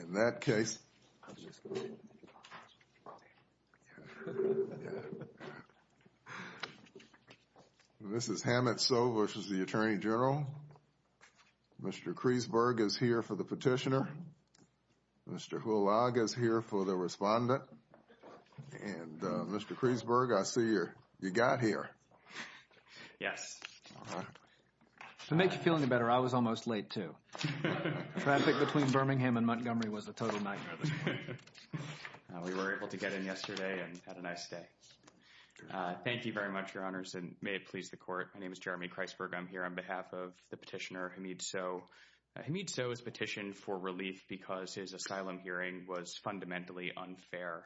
In that case, this is Hamid Sow v. U.S. Attorney General. Mr. Kreisberg is here for the petitioner. Mr. Hulag is here for the respondent. And Mr. Kreisberg, I see you got here. Yes. To make you feel any better, I was almost late, too. Traffic between Birmingham and Montgomery was a total nightmare this morning. We were able to get in yesterday and had a nice day. Thank you very much, Your Honors, and may it please the Court. My name is Jeremy Kreisberg. I'm here on behalf of the petitioner, Hamid Sow. Hamid Sow has petitioned for relief because his asylum hearing was fundamentally unfair.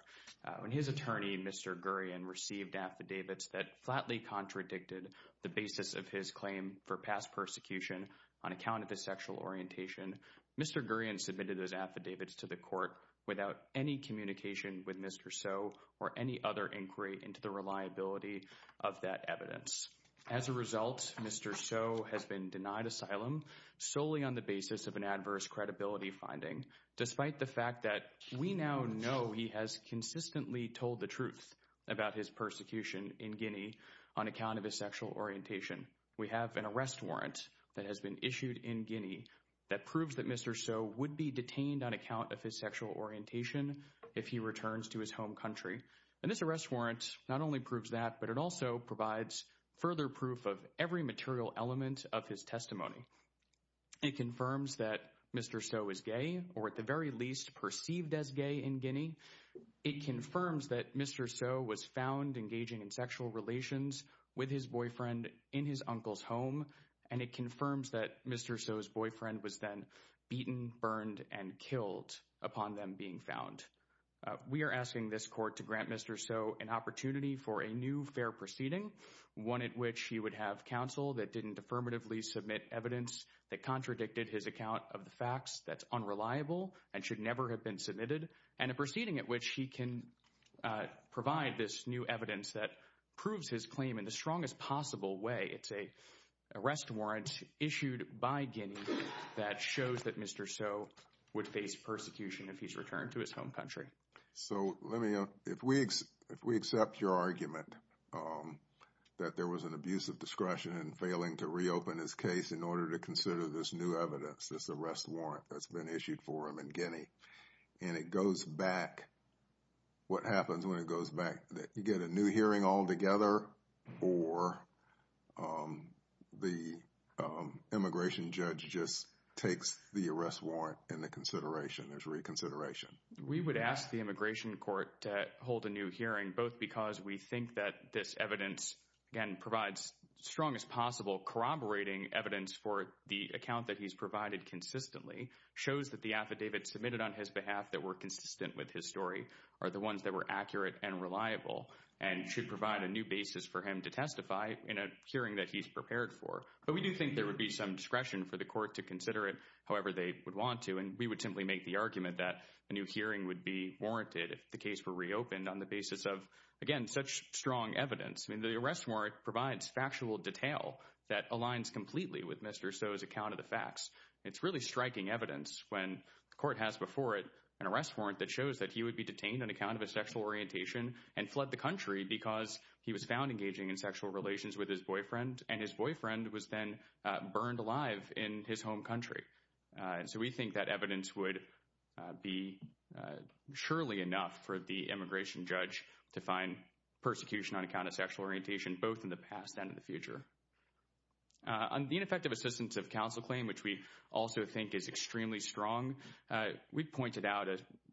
When his attorney, Mr. Gurian, received affidavits that flatly contradicted the basis of his claim for past persecution on account of his sexual orientation, Mr. Gurian submitted those affidavits to the Court without any communication with Mr. Sow or any other inquiry into the reliability of that evidence. As a result, Mr. Sow has been denied asylum solely on the basis of an adverse credibility finding, despite the fact that we now know he has consistently told the truth about his persecution in Guinea on account of his sexual orientation. We have an arrest warrant that has been issued in Guinea that proves that Mr. Sow would be detained on account of his sexual orientation if he returns to his home country. And this arrest warrant not only proves that, but it also provides further proof of every material element of his testimony. It confirms that Mr. Sow is gay, or at the very least, perceived as gay in Guinea. It confirms that Mr. Sow was found engaging in sexual relations with his boyfriend in his uncle's home. And it confirms that Mr. Sow's boyfriend was then beaten, burned, and killed upon them being found. We are asking this Court to grant Mr. Sow an opportunity for a new fair proceeding, one at which he would have counsel that didn't affirmatively submit evidence that contradicted his account of the facts, that's unreliable and should never have been submitted, and a proceeding at which he can provide this new evidence that proves his claim in the strongest possible way. It's an arrest warrant issued by Guinea that shows that Mr. Sow would face persecution if he's returned to his home country. So let me, if we accept your argument that there was an abuse of discretion in failing to reopen his case in order to consider this new evidence, this arrest warrant that's been issued for him in Guinea, and it goes back, what happens when it goes back? You get a new hearing altogether, or the immigration judge just takes the arrest warrant into consideration, there's reconsideration? We would ask the Immigration Court to hold a new hearing, both because we think that this evidence, again, provides the strongest possible corroborating evidence for the account that he's provided consistently, shows that the affidavits submitted on his behalf that were consistent with his story are the ones that were accurate and reliable, and should provide a new basis for him to testify in a hearing that he's prepared for. But we do think there would be some discretion for the court to consider it however they would want to, and we would simply make the argument that a new hearing would be warranted if the case were reopened on the basis of, again, such strong evidence. I mean, the arrest warrant provides factual detail that aligns completely with Mr. Sow's account of the facts. It's really striking evidence when the court has before it an arrest warrant that shows that he would be detained on account of a sexual orientation and fled the country because he was found engaging in sexual relations with his boyfriend, and his boyfriend was then burned alive in his home country. So we think that evidence would be surely enough for the immigration judge to find persecution on account of sexual orientation, both in the past and in the future. On the ineffective assistance of counsel claim, which we also think is extremely strong, we pointed out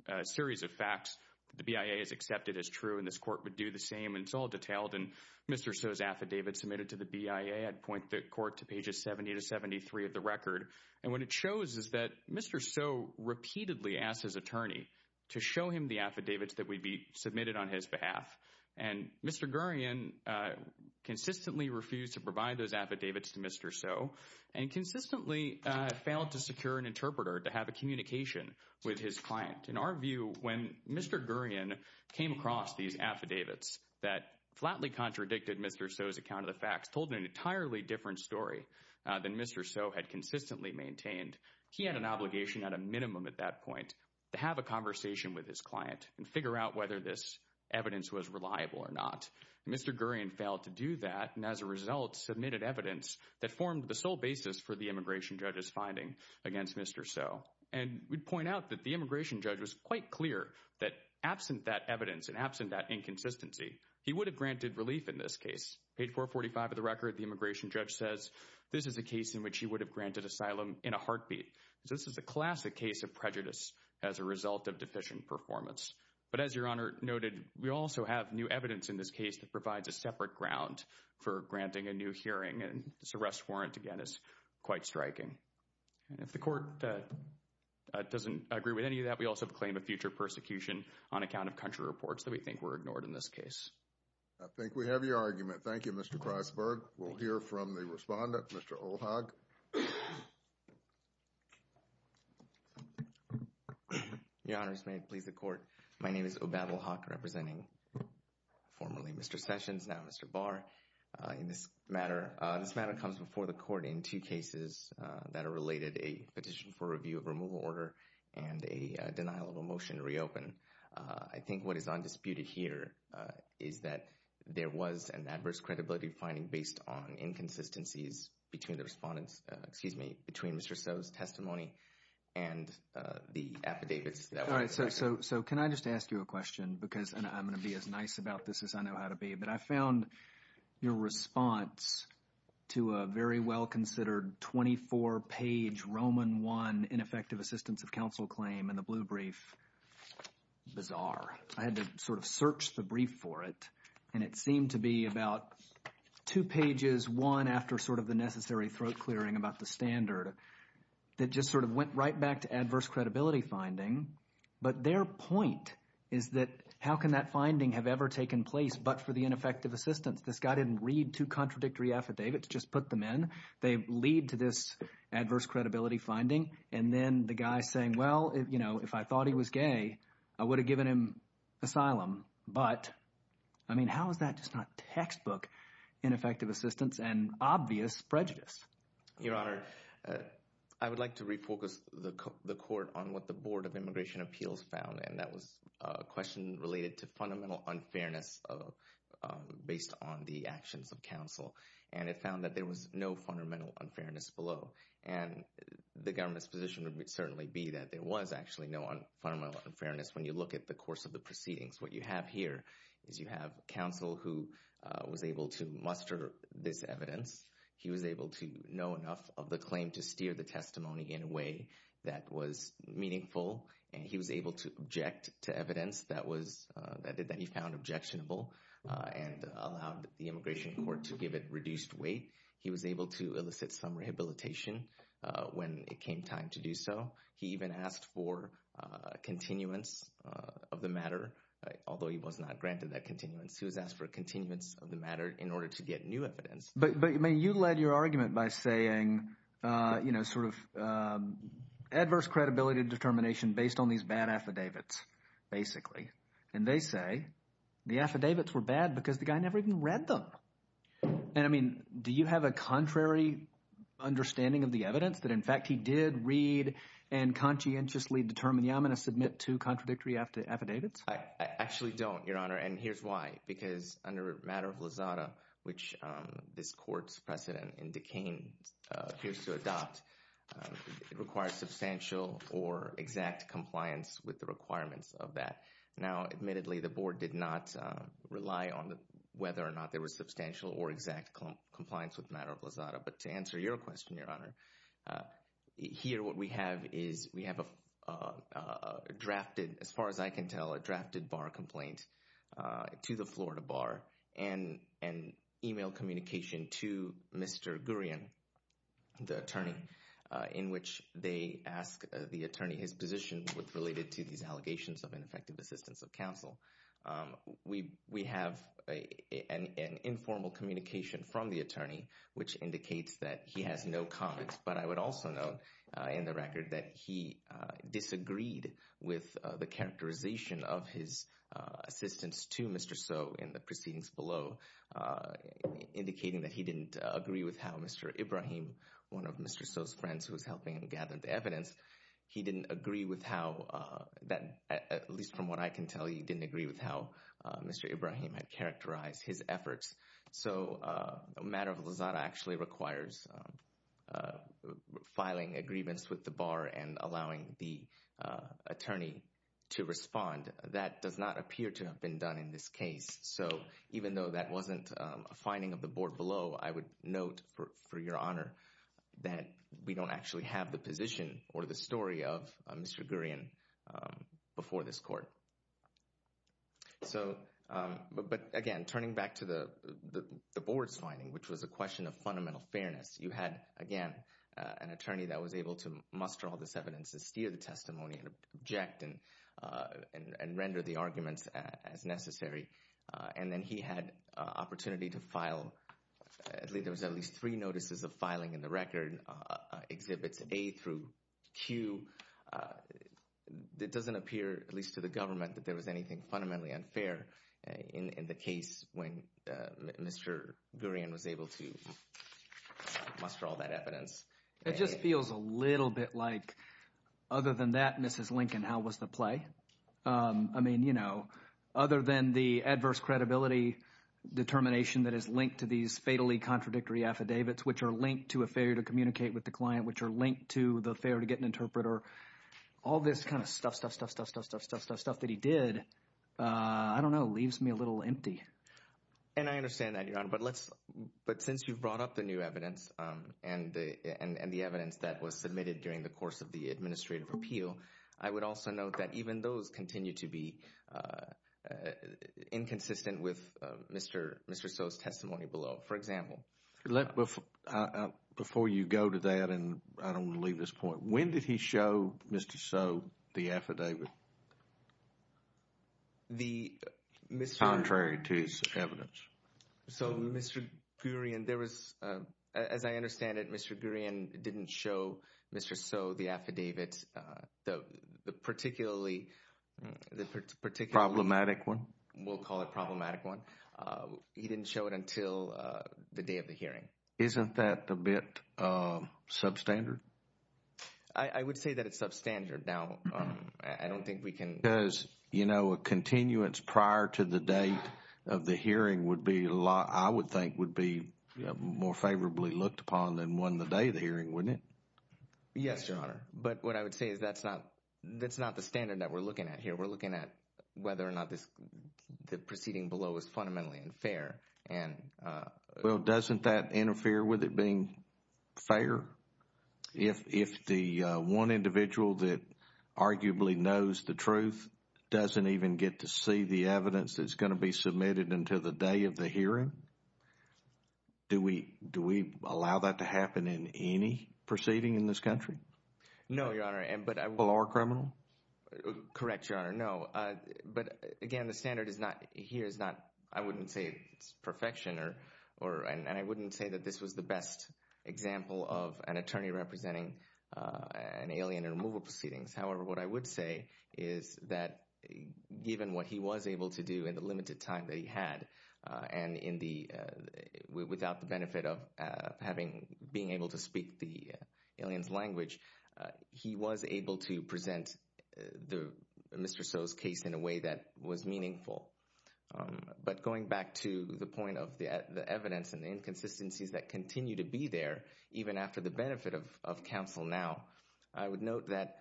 a series of facts that the BIA has accepted as true, and this court would do the same. And it's all detailed in Mr. Sow's affidavit submitted to the BIA. I'd point the court to pages 70 to 73 of the record. And what it shows is that Mr. Sow repeatedly asked his attorney to show him the affidavits that would be submitted on his behalf. And Mr. Gurian consistently refused to provide those affidavits to Mr. Sow and consistently failed to secure an interpreter to have a communication with his client. In our view, when Mr. Gurian came across these affidavits that flatly contradicted Mr. Sow's account of the facts, told an entirely different story than Mr. Sow had consistently maintained, he had an obligation at a minimum at that point to have a conversation with his client and figure out whether this evidence was reliable or not. Mr. Gurian failed to do that and as a result submitted evidence that formed the sole basis for the immigration judge's finding against Mr. Sow. And we'd point out that the immigration judge was quite clear that absent that evidence and absent that inconsistency, he would have granted relief in this case. Page 445 of the record, the immigration judge says this is a case in which he would have granted asylum in a heartbeat. This is a classic case of prejudice as a result of deficient performance. But as Your Honor noted, we also have new evidence in this case that provides a separate ground for granting a new hearing. And this arrest warrant, again, is quite striking. And if the court doesn't agree with any of that, we also claim a future persecution on account of country reports that we think were ignored in this case. I think we have your argument. Thank you, Mr. Kreisberg. We'll hear from the respondent, Mr. Ohag. Your Honors, may it please the court. My name is Obamal Haque, representing formerly Mr. Sessions, now Mr. Barr. In this matter, this matter comes before the court in two cases that are related, a petition for review of removal order and a denial of a motion to reopen. I think what is undisputed here is that there was an adverse credibility finding based on inconsistencies between the respondents, excuse me, between Mr. So's testimony and the affidavits. All right, so can I just ask you a question because I'm going to be as nice about this as I know how to be. But I found your response to a very well-considered 24-page Roman I ineffective assistance of counsel claim in the blue brief bizarre. I had to sort of search the brief for it, and it seemed to be about two pages, one after sort of the necessary throat clearing about the standard, that just sort of went right back to adverse credibility finding. But their point is that how can that finding have ever taken place but for the ineffective assistance? This guy didn't read two contradictory affidavits, just put them in. They lead to this adverse credibility finding. And then the guy saying, well, you know, if I thought he was gay, I would have given him asylum. But I mean, how is that just not textbook ineffective assistance and obvious prejudice? Your Honor, I would like to refocus the court on what the Board of Immigration Appeals found, and that was a question related to fundamental unfairness based on the actions of counsel. And it found that there was no fundamental unfairness below. And the government's position would certainly be that there was actually no fundamental unfairness when you look at the course of the proceedings. What you have here is you have counsel who was able to muster this evidence. He was able to know enough of the claim to steer the testimony in a way that was meaningful, and he was able to object to evidence that he found objectionable and allowed the immigration court to give it reduced weight. He was able to elicit some rehabilitation when it came time to do so. He even asked for continuance of the matter, although he was not granted that continuance. He was asked for continuance of the matter in order to get new evidence. But, I mean, you led your argument by saying, you know, sort of adverse credibility determination based on these bad affidavits basically. And they say the affidavits were bad because the guy never even read them. And, I mean, do you have a contrary understanding of the evidence that, in fact, he did read and conscientiously determine, yeah, I'm going to submit two contradictory affidavits? I actually don't, Your Honor, and here's why. Because under matter of lazada, which this court's precedent in decaying appears to adopt, it requires substantial or exact compliance with the requirements of that. Now, admittedly, the board did not rely on whether or not there was substantial or exact compliance with matter of lazada. But to answer your question, Your Honor, here what we have is we have a drafted, as far as I can tell, a drafted bar complaint to the Florida Bar and email communication to Mr. Gurian, the attorney, in which they ask the attorney his position with related to these allegations of ineffective assistance of counsel. We have an informal communication from the attorney, which indicates that he has no comments. But I would also note in the record that he disagreed with the characterization of his assistance to Mr. Soh in the proceedings below, indicating that he didn't agree with how Mr. Ibrahim, one of Mr. Soh's friends who was helping him gather the evidence, he didn't agree with how that, at least from what I can tell, he didn't agree with how Mr. Ibrahim had characterized his efforts. So matter of lazada actually requires filing agreements with the bar and allowing the attorney to respond. That does not appear to have been done in this case. So even though that wasn't a finding of the board below, I would note for your honor that we don't actually have the position or the story of Mr. Gurian before this court. So but again, turning back to the board's finding, which was a question of fundamental fairness, you had, again, an attorney that was able to muster all this evidence to steer the testimony and object and render the arguments as necessary. And then he had opportunity to file at least three notices of filing in the record, Exhibits A through Q. It doesn't appear, at least to the government, that there was anything fundamentally unfair in the case when Mr. Gurian was able to muster all that evidence. It just feels a little bit like other than that, Mrs. Lincoln, how was the play? I mean, you know, other than the adverse credibility determination that is linked to these fatally contradictory affidavits, which are linked to a failure to communicate with the client, which are linked to the failure to get an interpreter, all this kind of stuff, stuff, stuff, stuff, stuff, stuff, stuff, stuff that he did, I don't know, leaves me a little empty. And I understand that, Your Honor. But since you've brought up the new evidence and the evidence that was submitted during the course of the administrative appeal, I would also note that even those continue to be inconsistent with Mr. So's testimony below, for example. Before you go to that, and I don't want to leave this point, when did he show Mr. So the affidavit? The Mr. Contrary to his evidence. So Mr. Gurian, there was, as I understand it, Mr. Gurian didn't show Mr. So the affidavit. The particularly, the particularly Problematic one. We'll call it problematic one. He didn't show it until the day of the hearing. Isn't that a bit substandard? I would say that it's substandard. Now, I don't think we can. Because, you know, a continuance prior to the date of the hearing would be, I would think, would be more favorably looked upon than one the day of the hearing, wouldn't it? Yes, Your Honor. But what I would say is that's not, that's not the standard that we're looking at here. We're looking at whether or not this, the proceeding below is fundamentally unfair and Well, doesn't that interfere with it being fair? If the one individual that arguably knows the truth doesn't even get to see the evidence that's going to be submitted until the day of the hearing? Do we, do we allow that to happen in any proceeding in this country? No, Your Honor. Will our criminal? Correct, Your Honor, no. But, again, the standard is not, here is not, I wouldn't say it's perfection or, and I wouldn't say that this was the best example of an attorney representing an alien in removal proceedings. Mr. So's case in a way that was meaningful. But going back to the point of the evidence and the inconsistencies that continue to be there, even after the benefit of counsel now, I would note that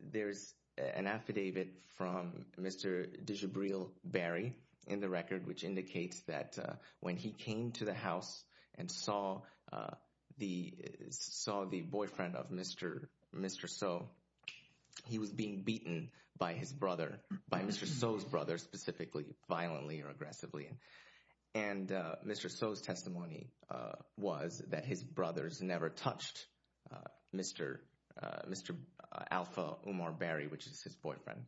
there's an affidavit from Mr. DeGibriel Berry in the record, which indicates that when he came to the house and saw the, saw the boyfriend of Mr. So, he was being beaten by his brother, by Mr. So's brother, specifically violently or aggressively. And Mr. So's testimony was that his brothers never touched Mr. Mr. Alpha Omar Berry, which is his boyfriend.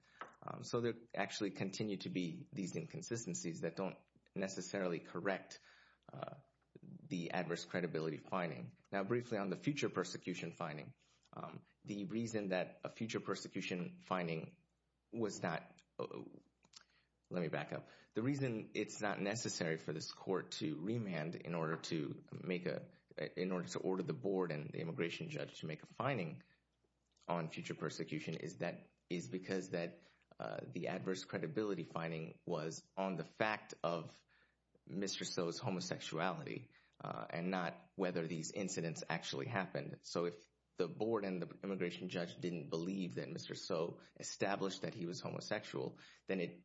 So there actually continue to be these inconsistencies that don't necessarily correct the adverse credibility finding. Now, briefly on the future persecution finding, the reason that a future persecution finding was not, let me back up, the reason it's not necessary for this court to remand in order to make a, in order to order the board and the immigration judge to make a finding on future persecution is that, is because that the adverse credibility finding was on the fact of Mr. So's homosexuality. And not whether these incidents actually happened. So if the board and the immigration judge didn't believe that Mr. So established that he was homosexual, then it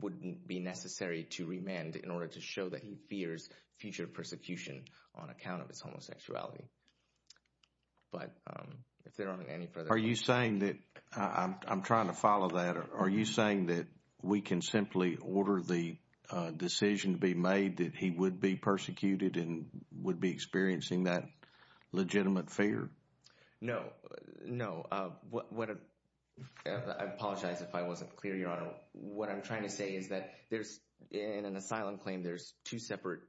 wouldn't be necessary to remand in order to show that he fears future persecution on account of his homosexuality. Are you saying that, I'm trying to follow that, are you saying that we can simply order the decision to be made that he would be persecuted and would be experiencing that legitimate fear? No, no. I apologize if I wasn't clear, Your Honor. What I'm trying to say is that there's, in an asylum claim, there's two separate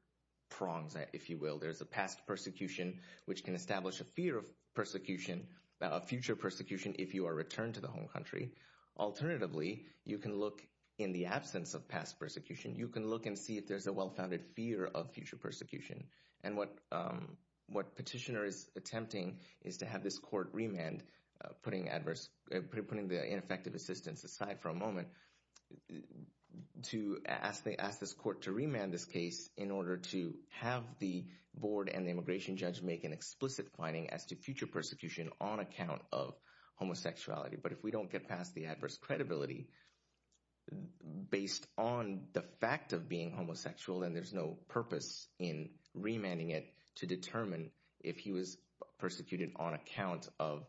prongs, if you will. There's a past persecution, which can establish a fear of persecution, a future persecution if you are returned to the home country. Alternatively, you can look in the absence of past persecution, you can look and see if there's a well-founded fear of future persecution. And what petitioner is attempting is to have this court remand, putting adverse, putting the ineffective assistance aside for a moment, to ask this court to remand this case in order to have the board and the immigration judge make an explicit finding as to future persecution on account of homosexuality. But if we don't get past the adverse credibility, based on the fact of being homosexual, then there's no purpose in remanding it to determine if he was persecuted on account of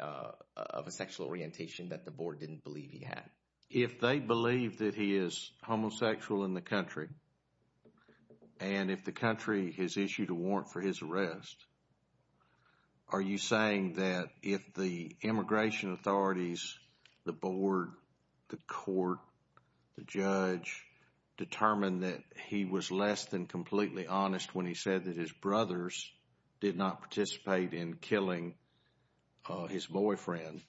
a sexual orientation that the board didn't believe he had. If they believe that he is homosexual in the country, and if the country has issued a warrant for his arrest, are you saying that if the immigration authorities, the board, the court, the judge, determined that he was less than completely honest when he said that his brothers did not participate in killing his boyfriend,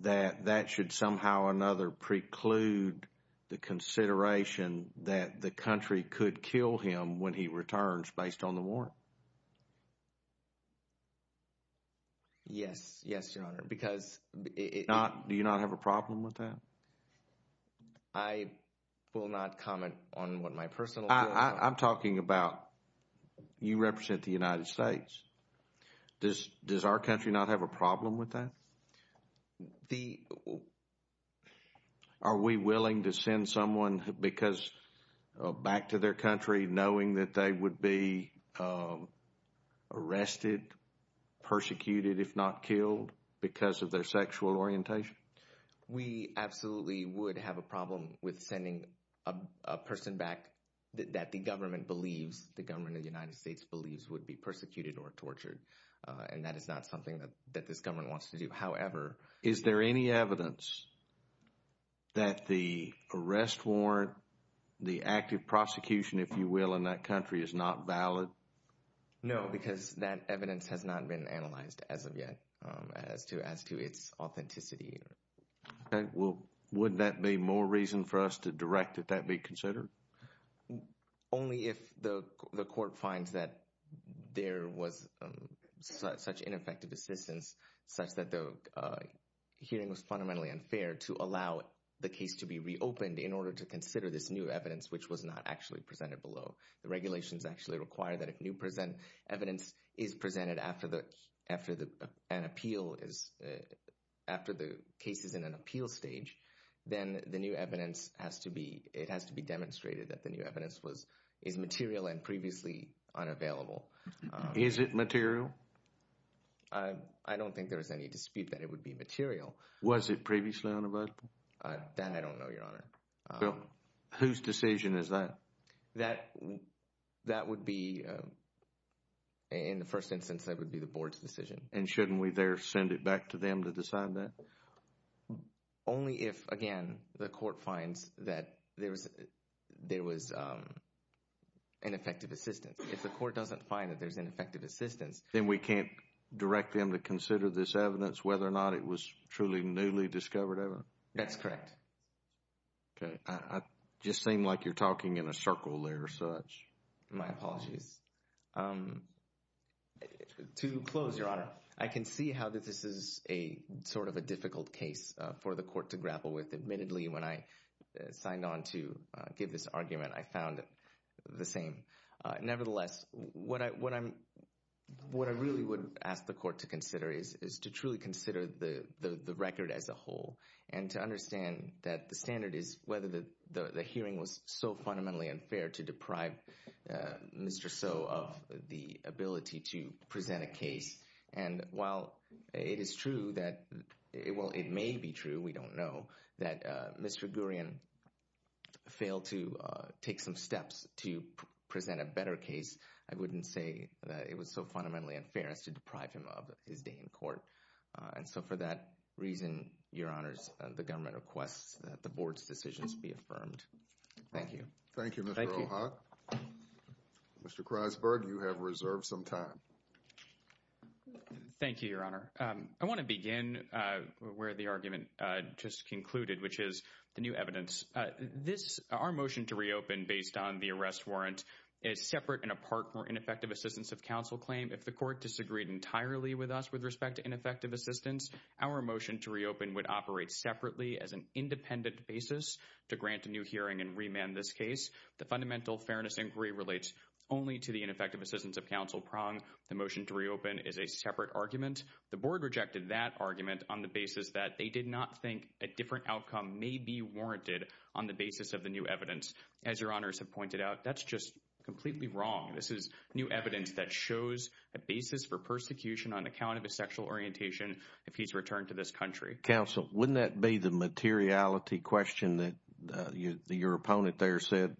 that that should somehow or another preclude the consideration that the country could kill him when he returns based on the warrant? Yes. Yes, Your Honor, because it— Do you not have a problem with that? I will not comment on what my personal— I'm talking about you represent the United States. Does our country not have a problem with that? The— Are we willing to send someone back to their country knowing that they would be arrested, persecuted, if not killed, because of their sexual orientation? We absolutely would have a problem with sending a person back that the government believes, the government of the United States believes would be persecuted or tortured, and that is not something that this government wants to do. However— Is there any evidence that the arrest warrant, the active prosecution, if you will, in that country is not valid? No, because that evidence has not been analyzed as of yet as to its authenticity. Okay. Well, wouldn't that be more reason for us to direct that that be considered? Only if the court finds that there was such ineffective assistance such that the hearing was fundamentally unfair to allow the case to be reopened in order to consider this new evidence, which was not actually presented below. The regulations actually require that if new evidence is presented after an appeal is—after the case is in an appeal stage, then the new evidence has to be—it has to be demonstrated that the new evidence was—is material and previously unavailable. Is it material? I don't think there was any dispute that it would be material. Was it previously unavailable? That I don't know, Your Honor. Well, whose decision is that? That would be—in the first instance, that would be the board's decision. And shouldn't we there send it back to them to decide that? Only if, again, the court finds that there was ineffective assistance. If the court doesn't find that there's ineffective assistance— Then we can't direct them to consider this evidence whether or not it was truly newly discovered ever? That's correct. Okay. It just seemed like you're talking in a circle there or such. My apologies. To close, Your Honor, I can see how this is a sort of a difficult case for the court to grapple with. Admittedly, when I signed on to give this argument, I found it the same. Nevertheless, what I really would ask the court to consider is to truly consider the record as a whole and to understand that the standard is whether the hearing was so fundamentally unfair to deprive Mr. Soh of the ability to present a case. And while it is true that—well, it may be true, we don't know—that Mr. Gurian failed to take some steps to present a better case, I wouldn't say that it was so fundamentally unfair as to deprive him of his day in court. And so for that reason, Your Honors, the government requests that the board's decisions be affirmed. Thank you. Thank you, Mr. Ohad. Mr. Kreisberg, you have reserved some time. Thank you, Your Honor. I want to begin where the argument just concluded, which is the new evidence. Our motion to reopen based on the arrest warrant is separate and apart from our ineffective assistance of counsel claim. If the court disagreed entirely with us with respect to ineffective assistance, our motion to reopen would operate separately as an independent basis to grant a new hearing and remand this case. The fundamental fairness inquiry relates only to the ineffective assistance of counsel prong. The motion to reopen is a separate argument. The board rejected that argument on the basis that they did not think a different outcome may be warranted on the basis of the new evidence. As Your Honors have pointed out, that's just completely wrong. This is new evidence that shows a basis for persecution on account of his sexual orientation if he's returned to this country. Counsel, wouldn't that be the materiality question that your opponent there said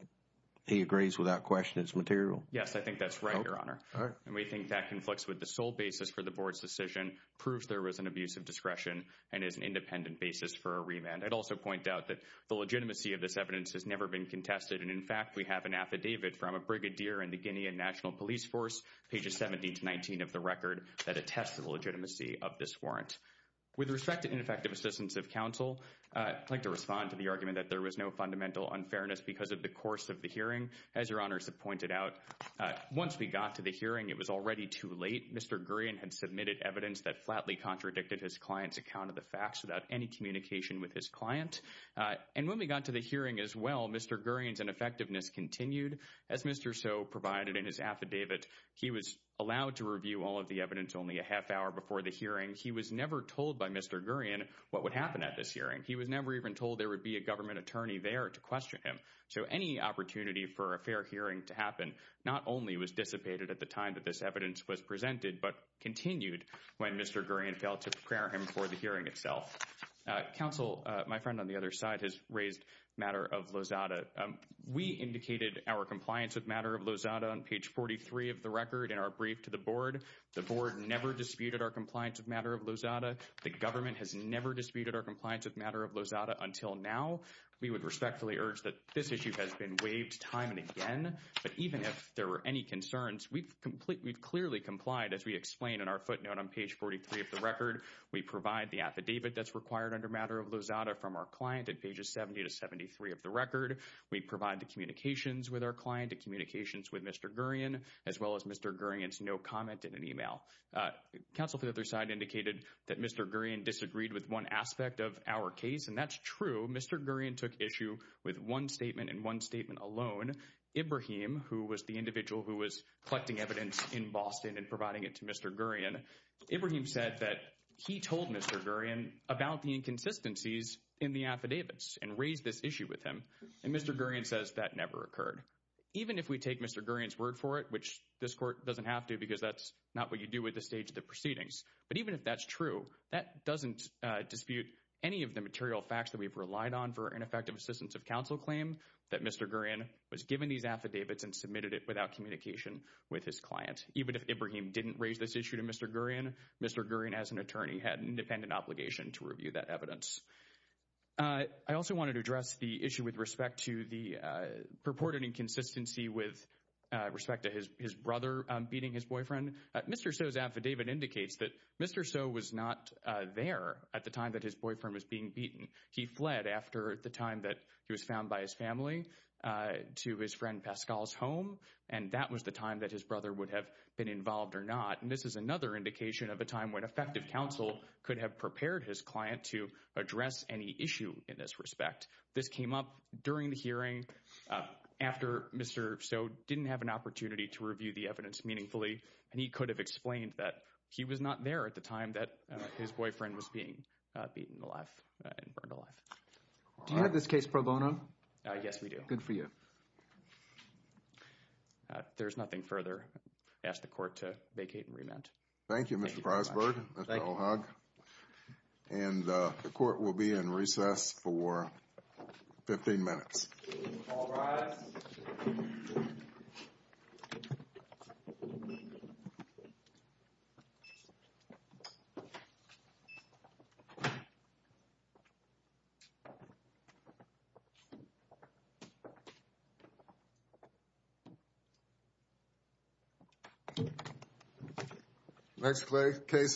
he agrees without question it's material? Yes, I think that's right, Your Honor. And we think that conflicts with the sole basis for the board's decision, proves there was an abuse of discretion, and is an independent basis for a remand. I'd also point out that the legitimacy of this evidence has never been contested. And, in fact, we have an affidavit from a brigadier in the Guinean National Police Force, pages 70 to 19 of the record, that attests to the legitimacy of this warrant. With respect to ineffective assistance of counsel, I'd like to respond to the argument that there was no fundamental unfairness because of the course of the hearing. As Your Honors have pointed out, once we got to the hearing, it was already too late. Mr. Gurian had submitted evidence that flatly contradicted his client's account of the facts without any communication with his client. And when we got to the hearing as well, Mr. Gurian's ineffectiveness continued. As Mr. So provided in his affidavit, he was allowed to review all of the evidence only a half hour before the hearing. He was never told by Mr. Gurian what would happen at this hearing. He was never even told there would be a government attorney there to question him. So any opportunity for a fair hearing to happen not only was dissipated at the time that this evidence was presented, but continued when Mr. Gurian failed to prepare him for the hearing itself. Counsel, my friend on the other side, has raised matter of Lozada. We indicated our compliance with matter of Lozada on page 43 of the record in our brief to the board. The board never disputed our compliance with matter of Lozada. The government has never disputed our compliance with matter of Lozada until now. We would respectfully urge that this issue has been waived time and again. But even if there were any concerns, we've clearly complied as we explain in our footnote on page 43 of the record. We provide the affidavit that's required under matter of Lozada from our client at pages 70 to 73 of the record. We provide the communications with our client, the communications with Mr. Gurian, as well as Mr. Gurian's no comment in an email. Counsel for the other side indicated that Mr. Gurian disagreed with one aspect of our case, and that's true. Mr. Gurian took issue with one statement and one statement alone. Ibrahim, who was the individual who was collecting evidence in Boston and providing it to Mr. Gurian, Ibrahim said that he told Mr. Gurian about the inconsistencies in the affidavits and raised this issue with him. And Mr. Gurian says that never occurred. Even if we take Mr. Gurian's word for it, which this court doesn't have to because that's not what you do at this stage of the proceedings, but even if that's true, that doesn't dispute any of the material facts that we've relied on for ineffective assistance of counsel claim that Mr. Gurian was given these affidavits and submitted it without communication with his client. Even if Ibrahim didn't raise this issue to Mr. Gurian, Mr. Gurian, as an attorney, had an independent obligation to review that evidence. I also wanted to address the issue with respect to the purported inconsistency with respect to his brother beating his boyfriend. Mr. So's affidavit indicates that Mr. So was not there at the time that his boyfriend was being beaten. He fled after the time that he was found by his family to his friend Pascal's home. And that was the time that his brother would have been involved or not. And this is another indication of a time when effective counsel could have prepared his client to address any issue in this respect. This came up during the hearing after Mr. So didn't have an opportunity to review the evidence meaningfully, and he could have explained that he was not there at the time that his boyfriend was being beaten alive and burned alive. Do you have this case pro bono? Yes, we do. Good for you. There's nothing further. I ask the court to vacate and remand. Thank you, Mr. Prosper. And the court will be in recess for 15 minutes. All rise.